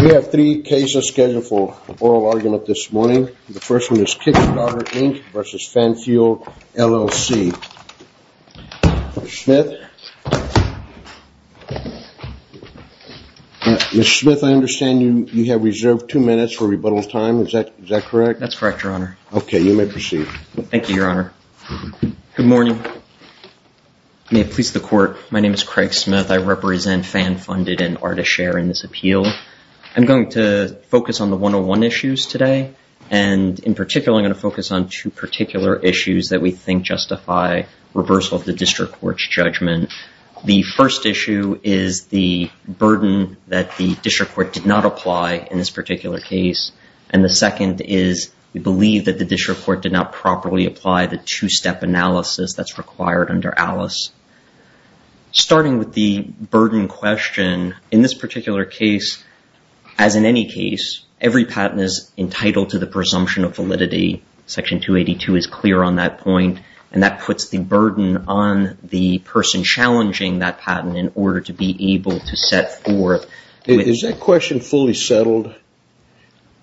We have three cases scheduled for oral argument this morning. The first one is Kickstarter, Inc. v. Fan Fueled, LLC. Mr. Smith? Mr. Smith, I understand you have reserved two minutes for rebuttal time. Is that correct? That's correct, Your Honor. Okay, you may proceed. Thank you, Your Honor. Good morning. May it please the Court, my name is Craig Smith. I represent Fan Funded and Art of Share in this appeal. I'm going to focus on the 101 issues today. And in particular, I'm going to focus on two particular issues that we think justify reversal of the District Court's judgment. The first issue is the burden that the District Court did not apply in this particular case. And the second is we believe that the District Court did not properly apply the two-step analysis that's required under ALICE. Starting with the burden question, in this particular case, as in any case, every patent is entitled to the presumption of validity. Section 282 is clear on that point. And that puts the burden on the person challenging that patent in order to be able to set forth... Is that question fully settled?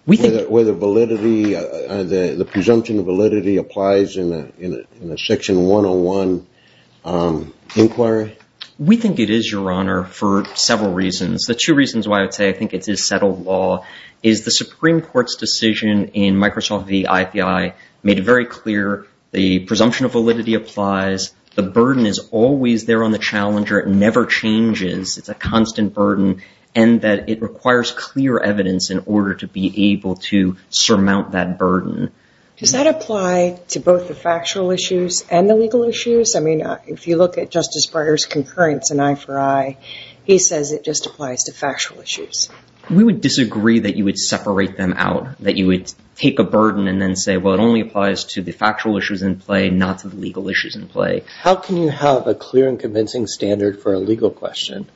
Whether validity, the presumption of validity applies in a Section 101 inquiry? We think it is, Your Honor, for several reasons. The two reasons why I would say I think it is settled law is the Supreme Court's decision in Microsoft v. IPI made it very clear the presumption of validity applies. The burden is always there on the challenger. It never changes. It's a constant burden and that it requires clear evidence in order to be able to surmount that burden. Does that apply to both the factual issues and the legal issues? I mean, if you look at Justice Breyer's concurrence in I for I, he says it just applies to factual issues. We would disagree that you would separate them out, that you would take a burden and then say, well, it only applies to the factual issues in play, not to the legal issues in play. How can you have a clear and convincing standard for a legal question?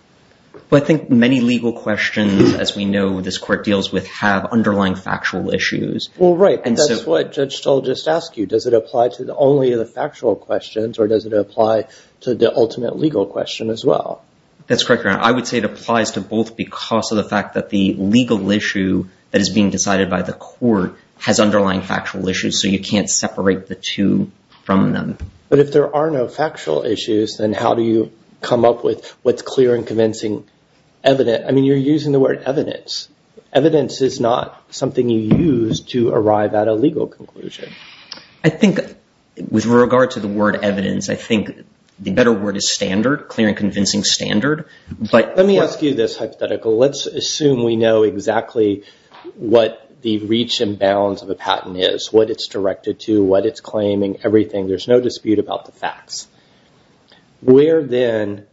Well, I think many legal questions, as we know this Court deals with, have underlying factual issues. Well, right. That's what Judge Stoll just asked you. Does it apply to only the factual questions or does it apply to the ultimate legal question as well? That's correct, Your Honor. I would say it applies to both because of the fact that the legal issue that is being decided by the Court has underlying factual issues, so you can't separate the two from them. But if there are no factual issues, then how do you come up with what's clear and convincing evidence? I mean, you're using the word evidence. Evidence is not something you use to arrive at a legal conclusion. I think with regard to the word evidence, I think the better word is standard, clear and convincing standard. Let me ask you this hypothetical. Let's assume we know exactly what the reach and bounds of a patent is, what it's directed to, what it's claiming, everything. There's no dispute about the facts. Where, then,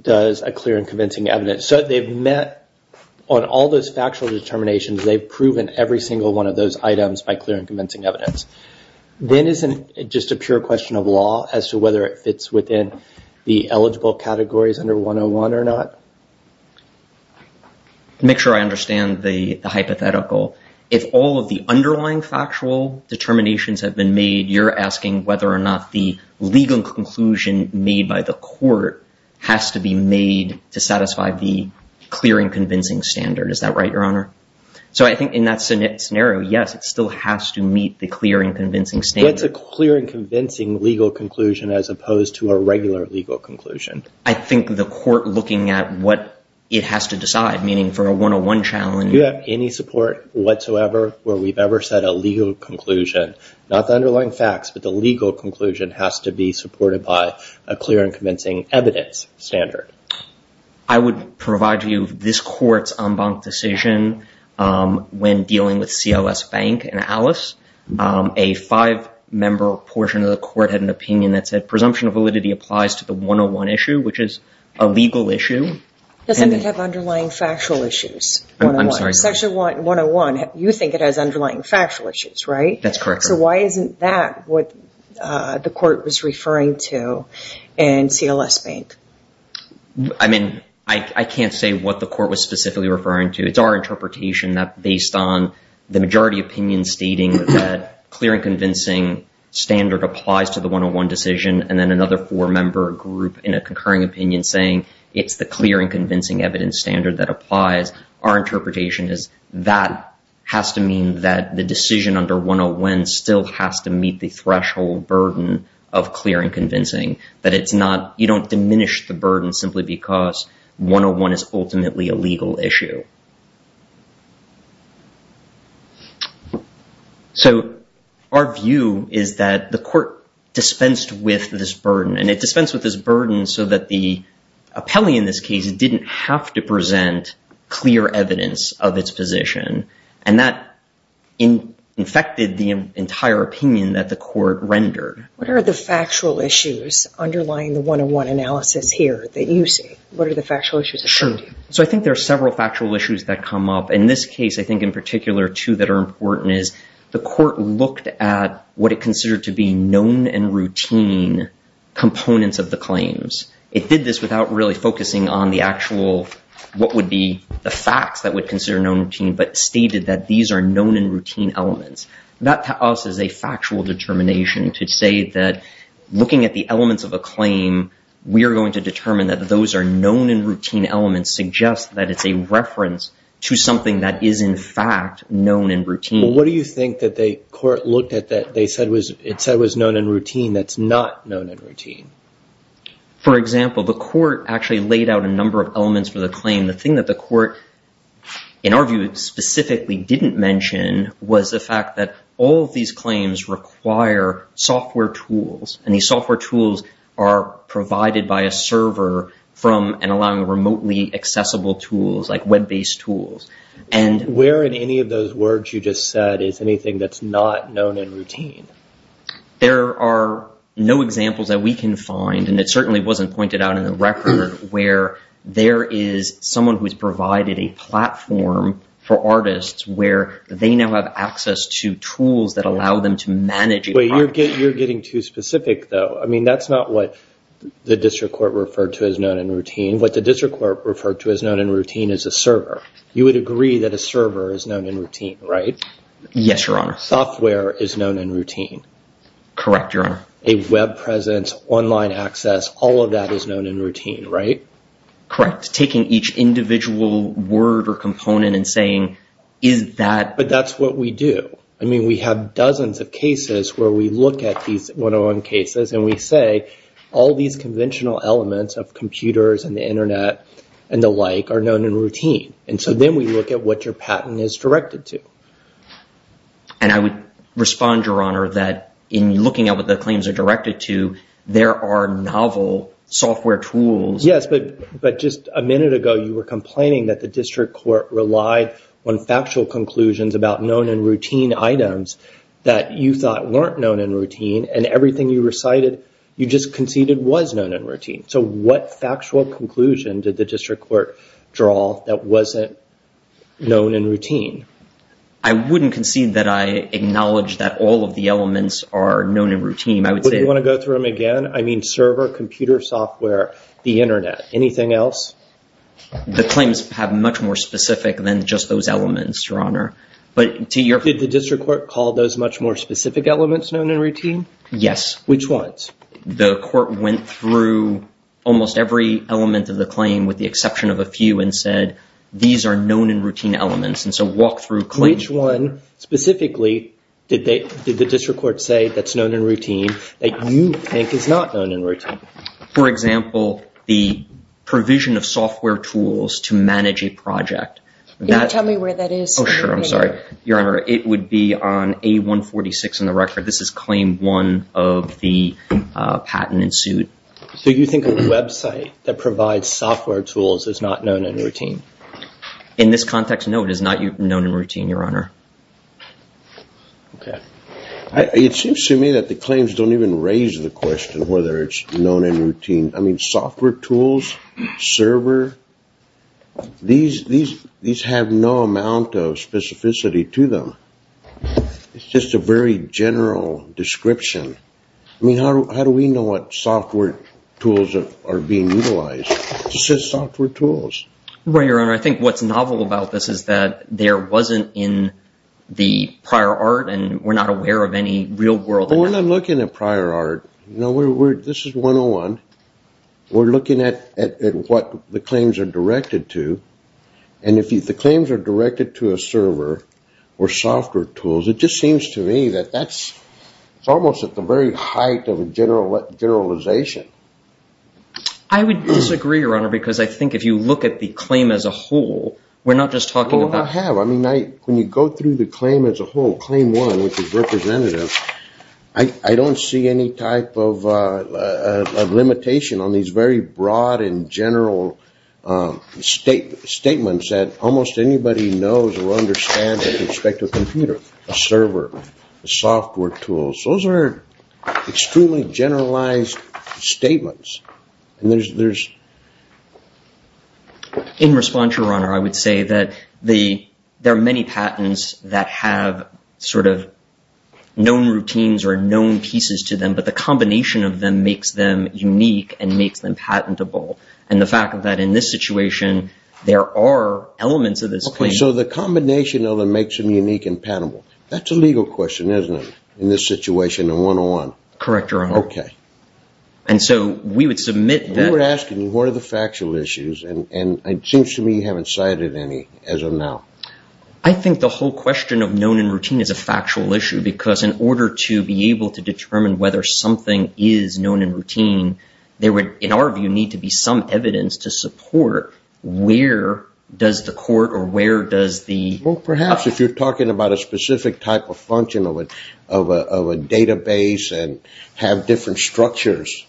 does a clear and convincing evidence? So they've met on all those factual determinations. They've proven every single one of those items by clear and convincing evidence. Then isn't it just a pure question of law as to whether it fits within the eligible categories under 101 or not? To make sure I understand the hypothetical, if all of the underlying factual determinations have been made, you're asking whether or not the legal conclusion made by the court has to be made to satisfy the clear and convincing standard. Is that right, Your Honor? So I think in that scenario, yes, it still has to meet the clear and convincing standard. It's a clear and convincing legal conclusion as opposed to a regular legal conclusion. I think the court looking at what it has to decide, meaning for a 101 challenge. Do you have any support whatsoever where we've ever set a legal conclusion? Not the underlying facts, but the legal conclusion has to be supported by a clear and convincing evidence standard. I would provide to you this court's en banc decision when dealing with CLS Bank and Alice. A five-member portion of the court had an opinion that said presumption of validity applies to the 101 issue, which is a legal issue. Doesn't it have underlying factual issues? I'm sorry. Section 101, you think it has underlying factual issues, right? That's correct. So why isn't that what the court was referring to in CLS Bank? I mean, I can't say what the court was specifically referring to. It's our interpretation that based on the majority opinion stating that clear and convincing standard applies to the 101 decision and then another four-member group in a concurring opinion saying it's the clear and convincing evidence standard that applies, our interpretation is that has to mean that the decision under 101 still has to meet the threshold burden of clear and convincing, that you don't diminish the burden simply because 101 is ultimately a legal issue. So our view is that the court dispensed with this burden, and it dispensed with this burden so that the appellee in this case didn't have to present clear evidence of its position, and that infected the entire opinion that the court rendered. What are the factual issues underlying the 101 analysis here that you see? What are the factual issues? So I think there are several factual issues that come up. In this case, I think in particular two that are important is the court looked at what it considered to be known and routine components of the claims. It did this without really focusing on the actual what would be the facts that would consider known routine, but stated that these are known and routine elements. That to us is a factual determination to say that looking at the elements of a claim, we are going to determine that those are known and routine elements suggests that it's a reference to something that is in fact known and routine. Well, what do you think that the court looked at that it said was known and routine that's not known and routine? For example, the court actually laid out a number of elements for the claim. The thing that the court, in our view, specifically didn't mention was the fact that all of these claims require software tools, and these software tools are provided by a server from and allowing remotely accessible tools like web-based tools. Where in any of those words you just said is anything that's not known and routine? There are no examples that we can find, and it certainly wasn't pointed out in the record, where there is someone who has provided a platform for artists where they now have access to tools that allow them to manage a project. You're getting too specific, though. I mean, that's not what the district court referred to as known and routine. What the district court referred to as known and routine is a server. You would agree that a server is known and routine, right? Yes, Your Honor. Software is known and routine. Correct, Your Honor. A web presence, online access, all of that is known and routine, right? Correct. Taking each individual word or component and saying, is that… But that's what we do. I mean, we have dozens of cases where we look at these one-on-one cases, and we say all these conventional elements of computers and the Internet and the like are known and routine. And so then we look at what your patent is directed to. And I would respond, Your Honor, that in looking at what the claims are directed to, there are novel software tools. Yes, but just a minute ago you were complaining that the district court relied on factual conclusions about known and routine items that you thought weren't known and routine, and everything you recited you just conceded was known and routine. So what factual conclusion did the district court draw that wasn't known and routine? I wouldn't concede that I acknowledge that all of the elements are known and routine. Would you want to go through them again? I mean, server, computer software, the Internet, anything else? The claims have much more specific than just those elements, Your Honor. Did the district court call those much more specific elements known and routine? Yes. Which ones? The court went through almost every element of the claim with the exception of a few and said, these are known and routine elements, and so walk through claims. Which one specifically did the district court say that's known and routine that you think is not known and routine? For example, the provision of software tools to manage a project. Can you tell me where that is? Oh, sure. I'm sorry. Your Honor, it would be on A146 in the record. This is claim one of the patent in suit. So you think a website that provides software tools is not known and routine? In this context, no, it is not known and routine, Your Honor. Okay. It seems to me that the claims don't even raise the question whether it's known and routine. I mean, software tools, server, these have no amount of specificity to them. It's just a very general description. I mean, how do we know what software tools are being utilized? It says software tools. Right, Your Honor. I think what's novel about this is that there wasn't in the prior art, and we're not aware of any real world. Well, we're not looking at prior art. This is 101. We're looking at what the claims are directed to, and if the claims are directed to a server or software tools, it just seems to me that that's almost at the very height of a generalization. I would disagree, Your Honor, because I think if you look at the claim as a whole, we're not just talking about. Well, I have. I mean, when you go through the claim as a whole, claim one, which is representative, I don't see any type of limitation on these very broad and general statements that almost anybody knows or understands with respect to a computer, a server, a software tool. Those are extremely generalized statements, and there's... In response, Your Honor, I would say that there are many patents that have sort of known routines or known pieces to them, but the combination of them makes them unique and makes them patentable, and the fact that in this situation there are elements of this claim. Okay, so the combination of them makes them unique and patentable. That's a legal question, isn't it, in this situation in 101? Correct, Your Honor. Okay. And so we would submit that... We were asking you what are the factual issues, and it seems to me you haven't cited any as of now. I think the whole question of known and routine is a factual issue, because in order to be able to determine whether something is known and routine, there would, in our view, need to be some evidence to support where does the court or where does the... Well, perhaps if you're talking about a specific type of function of a database and have different structures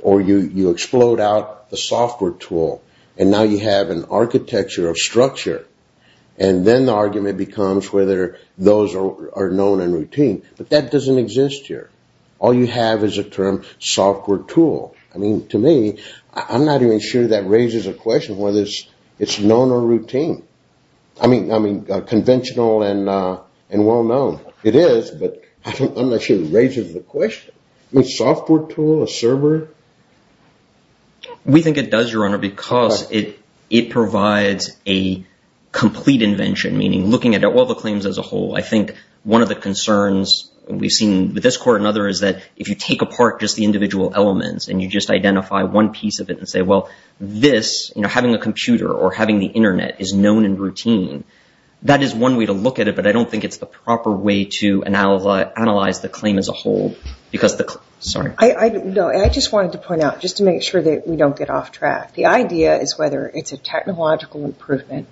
or you explode out the software tool and now you have an architecture of structure, and then the argument becomes whether those are known and routine, but that doesn't exist here. All you have is a term software tool. I mean, to me, I'm not even sure that raises a question whether it's known or routine. I mean, conventional and well-known. It is, but I'm not sure it raises the question. A software tool, a server? We think it does, Your Honor, because it provides a complete invention, meaning looking at all the claims as a whole. I think one of the concerns we've seen with this court and others is that if you take apart just the individual elements and you just identify one piece of it and say, well, this, having a computer or having the Internet is known and routine, that is one way to look at it, but I don't think it's the proper way to analyze the claim as a whole. Sorry. No, I just wanted to point out, just to make sure that we don't get off track, the idea is whether it's a technological improvement.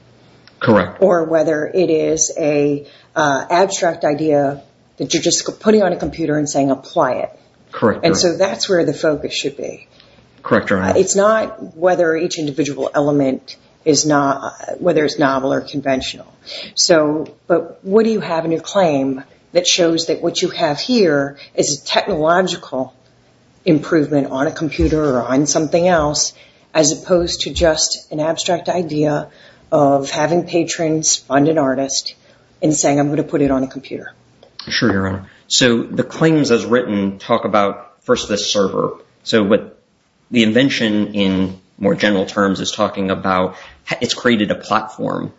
Correct. Or whether it is an abstract idea that you're just putting on a computer and saying, apply it. Correct. And so that's where the focus should be. Correct, Your Honor. It's not whether each individual element is novel or conventional. But what do you have in your claim that shows that what you have here is a technological improvement on a computer as opposed to just an abstract idea of having patrons fund an artist and saying, I'm going to put it on a computer? Sure, Your Honor. So the claims as written talk about, first, the server. So the invention in more general terms is talking about it's created a platform,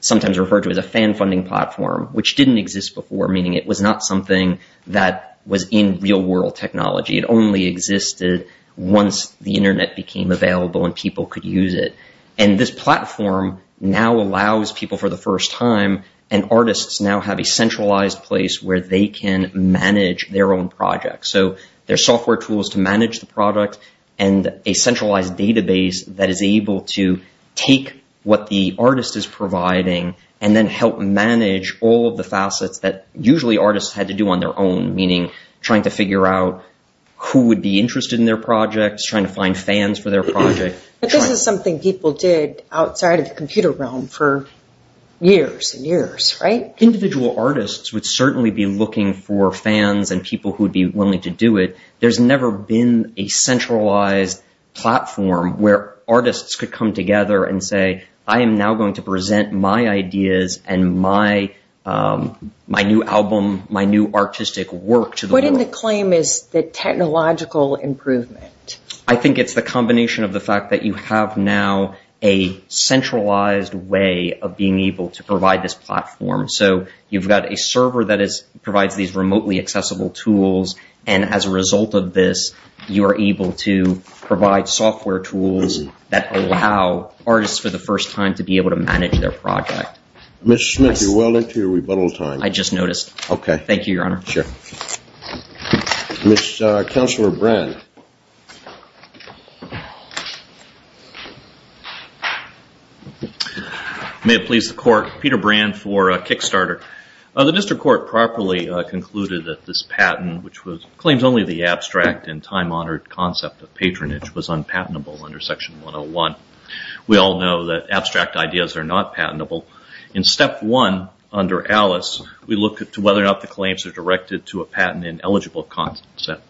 sometimes referred to as a fan-funding platform, which didn't exist before, meaning it was not something that was in real-world technology. It only existed once the internet became available and people could use it. And this platform now allows people for the first time, and artists now have a centralized place where they can manage their own projects. So there's software tools to manage the product and a centralized database that is able to take what the artist is providing and then help manage all of the facets that usually artists had to do on their own, meaning trying to figure out who would be interested in their projects, trying to find fans for their project. But this is something people did outside of the computer realm for years and years, right? Individual artists would certainly be looking for fans and people who would be willing to do it. There's never been a centralized platform where artists could come together and say, I am now going to present my ideas and my new album, my new artistic work to the world. What in the claim is the technological improvement? I think it's the combination of the fact that you have now a centralized way of being able to provide this platform. So you've got a server that provides these remotely accessible tools, and as a result of this, you are able to provide software tools that allow artists for the first time to be able to manage their project. Mr. Smith, you're well into your rebuttal time. I just noticed. Okay. Thank you, Your Honor. Sure. Mr. Counselor Brand. May it please the Court. Peter Brand for Kickstarter. The District Court properly concluded that this patent, which claims only the abstract and time-honored concept of patronage, was unpatentable under Section 101. We all know that abstract ideas are not patentable. In Step 1 under Alice, we look at whether or not the claims are directed to a patent ineligible concept.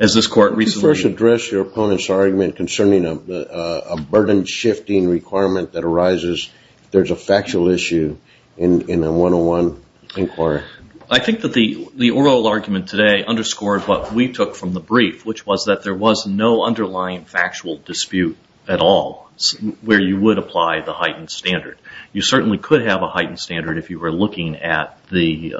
As this Court recently... Could you first address your opponent's argument concerning a burden-shifting requirement that arises if there's a factual issue in a 101 inquiry? I think that the oral argument today underscored what we took from the brief, which was that there was no underlying factual dispute at all where you would apply the heightened standard. You certainly could have a heightened standard if you were looking at the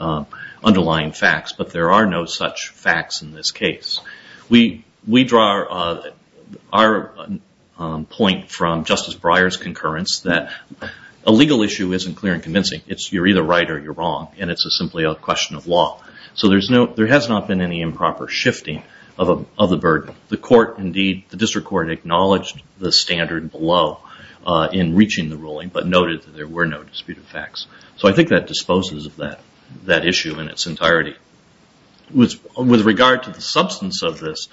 underlying facts, but there are no such facts in this case. We draw our point from Justice Breyer's concurrence that a legal issue isn't clear and convincing. You're either right or you're wrong, and it's simply a question of law. So there has not been any improper shifting of the burden. The District Court acknowledged the standard below in reaching the ruling, but noted that there were no disputed facts. So I think that disposes of that issue in its entirety. With regard to the substance of this,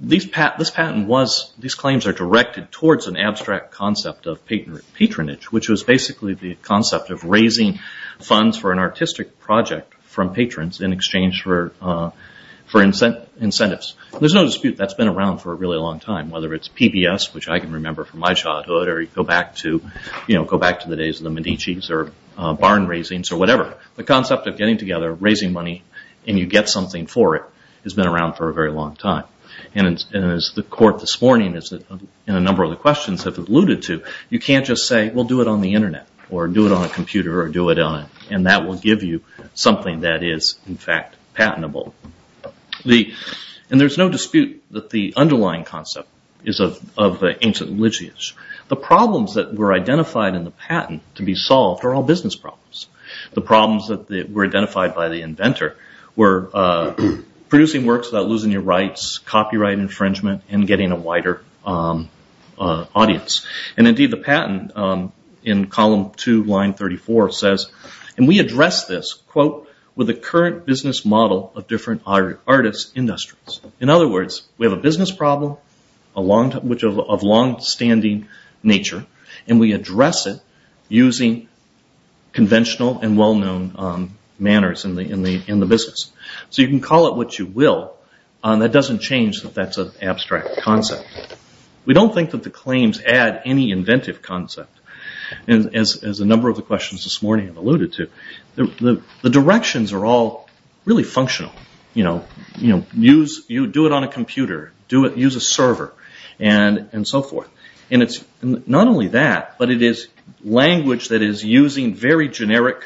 these claims are directed towards an abstract concept of patronage, which was basically the concept of raising funds for an artistic project from patrons in exchange for incentives. There's no dispute that's been around for a really long time, whether it's PBS, which I can remember from my childhood, or you go back to the days of the Medici's or barn raisings or whatever. The concept of getting together, raising money, and you get something for it has been around for a very long time. And as the Court this morning in a number of the questions have alluded to, you can't just say, well, do it on the Internet or do it on a computer or do it on a... and that will give you something that is, in fact, patentable. And there's no dispute that the underlying concept is of ancient literature. The problems that were identified in the patent to be solved are all business problems. The problems that were identified by the inventor were producing works without losing your rights, copyright infringement, and getting a wider audience. And, indeed, the patent in column 2, line 34 says, and we address this, quote, with the current business model of different artists, industries. In other words, we have a business problem of longstanding nature, and we address it using conventional and well-known manners in the business. So you can call it what you will. That doesn't change that that's an abstract concept. We don't think that the claims add any inventive concept. And as a number of the questions this morning have alluded to, the directions are all really functional. You do it on a computer, use a server, and so forth. And it's not only that, but it is language that is using very generic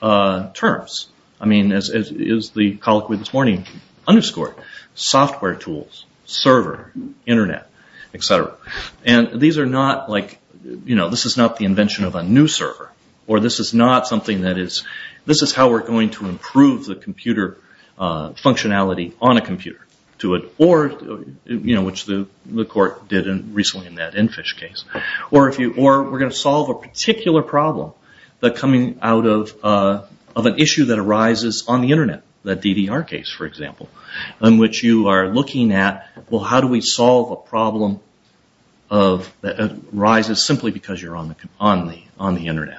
terms. I mean, as is the colloquy this morning, underscore, software tools, server, Internet, et cetera. And these are not like, you know, this is not the invention of a new server, or this is not something that is, this is how we're going to improve the computer functionality on a computer. Or, you know, which the court did recently in that Enfish case. Or we're going to solve a particular problem that's coming out of an issue that arises on the Internet. That DDR case, for example, in which you are looking at, well, how do we solve a problem that arises simply because you're on the Internet.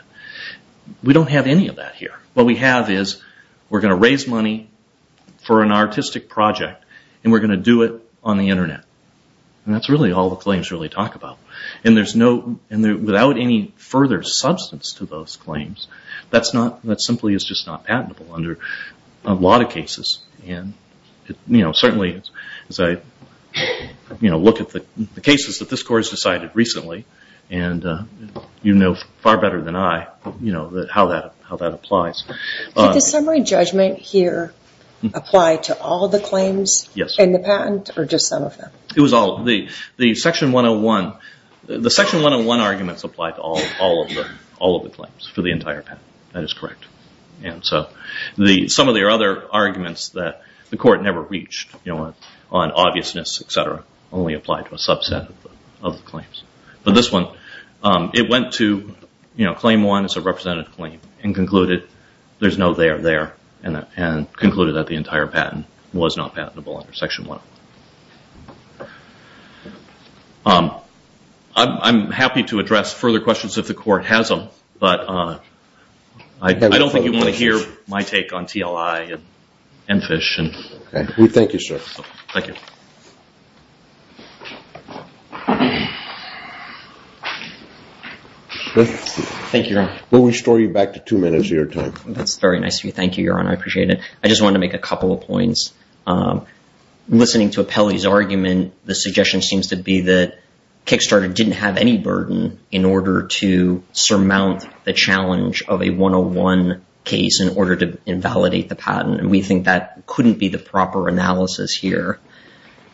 We don't have any of that here. What we have is we're going to raise money for an artistic project, and we're going to do it on the Internet. And that's really all the claims really talk about. And there's no, without any further substance to those claims, that's not, that simply is just not patentable under a lot of cases. And, you know, certainly as I, you know, look at the cases that this court has decided recently, and you know far better than I, you know, how that applies. Did the summary judgment here apply to all the claims in the patent or just some of them? It was all of them. The section 101, the section 101 arguments apply to all of them, all of the claims for the entire patent. That is correct. And so some of the other arguments that the court never reached, you know, on obviousness, et cetera, only apply to a subset of the claims. But this one, it went to, you know, claim one as a representative claim and concluded there's no there there and concluded that the entire patent was not patentable under section one. I'm happy to address further questions if the court has them, but I don't think you want to hear my take on TLI and FISH. Thank you, sir. Thank you. Let's see. Thank you, Your Honor. We'll restore you back to two minutes of your time. That's very nice of you. Thank you, Your Honor. I appreciate it. I just want to make a couple of points. Listening to Apelli's argument, the suggestion seems to be that Kickstarter didn't have any burden in order to surmount the challenge of a 101 case in order to invalidate the patent, and we think that couldn't be the proper analysis here.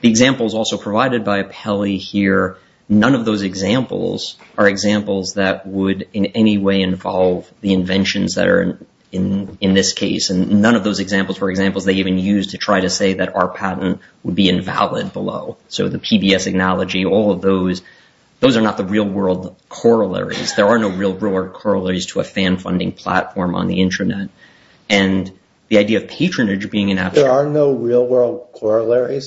The example is also provided by Apelli here. None of those examples are examples that would in any way involve the inventions that are in this case, and none of those examples were examples they even used to try to say that our patent would be invalid below. So the PBS analogy, all of those, those are not the real-world corollaries. There are no real-world corollaries to a fan-funding platform on the Internet. And the idea of patronage being an abstract… There's no real-world corollary of a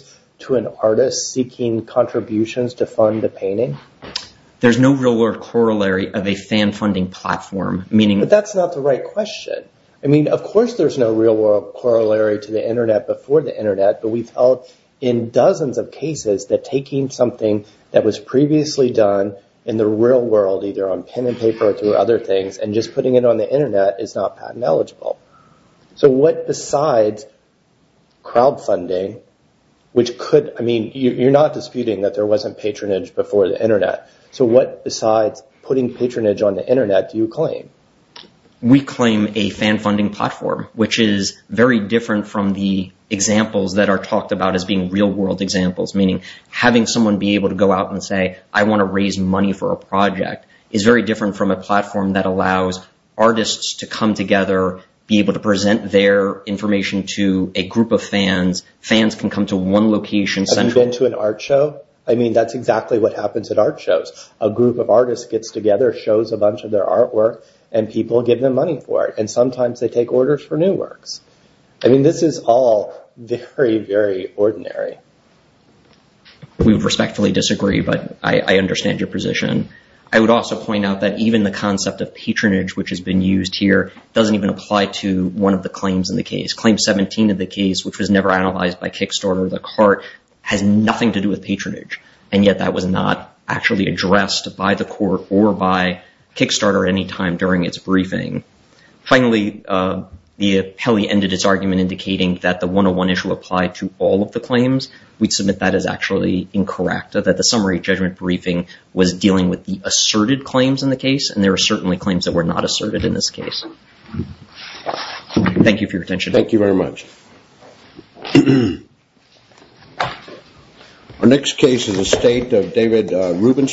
fan-funding platform, meaning… But that's not the right question. I mean, of course there's no real-world corollary to the Internet before the Internet, but we felt in dozens of cases that taking something that was previously done in the real world, either on pen and paper or through other things, and just putting it on the Internet is not patent eligible. So what besides crowdfunding, which could… I mean, you're not disputing that there wasn't patronage before the Internet. So what besides putting patronage on the Internet do you claim? We claim a fan-funding platform, which is very different from the examples that are talked about as being real-world examples, meaning having someone be able to go out and say, I want to raise money for a project, is very different from a platform that allows artists to come together, be able to present their information to a group of fans. Fans can come to one location… Have you been to an art show? I mean, that's exactly what happens at art shows. A group of artists gets together, shows a bunch of their artwork, and people give them money for it. And sometimes they take orders for new works. I mean, this is all very, very ordinary. We would respectfully disagree, but I understand your position. I would also point out that even the concept of patronage, which has been used here, doesn't even apply to one of the claims in the case. Claim 17 of the case, which was never analyzed by Kickstarter, the cart, has nothing to do with patronage. And yet that was not actually addressed by the court or by Kickstarter at any time during its briefing. Finally, the appellee ended its argument indicating that the 101 issue applied to all of the claims. We'd submit that as actually incorrect, that the summary judgment briefing was dealing with the asserted claims in the case, and there are certainly claims that were not asserted in this case. Thank you for your attention. Thank you very much. Our next case is a state of David Rubenstein.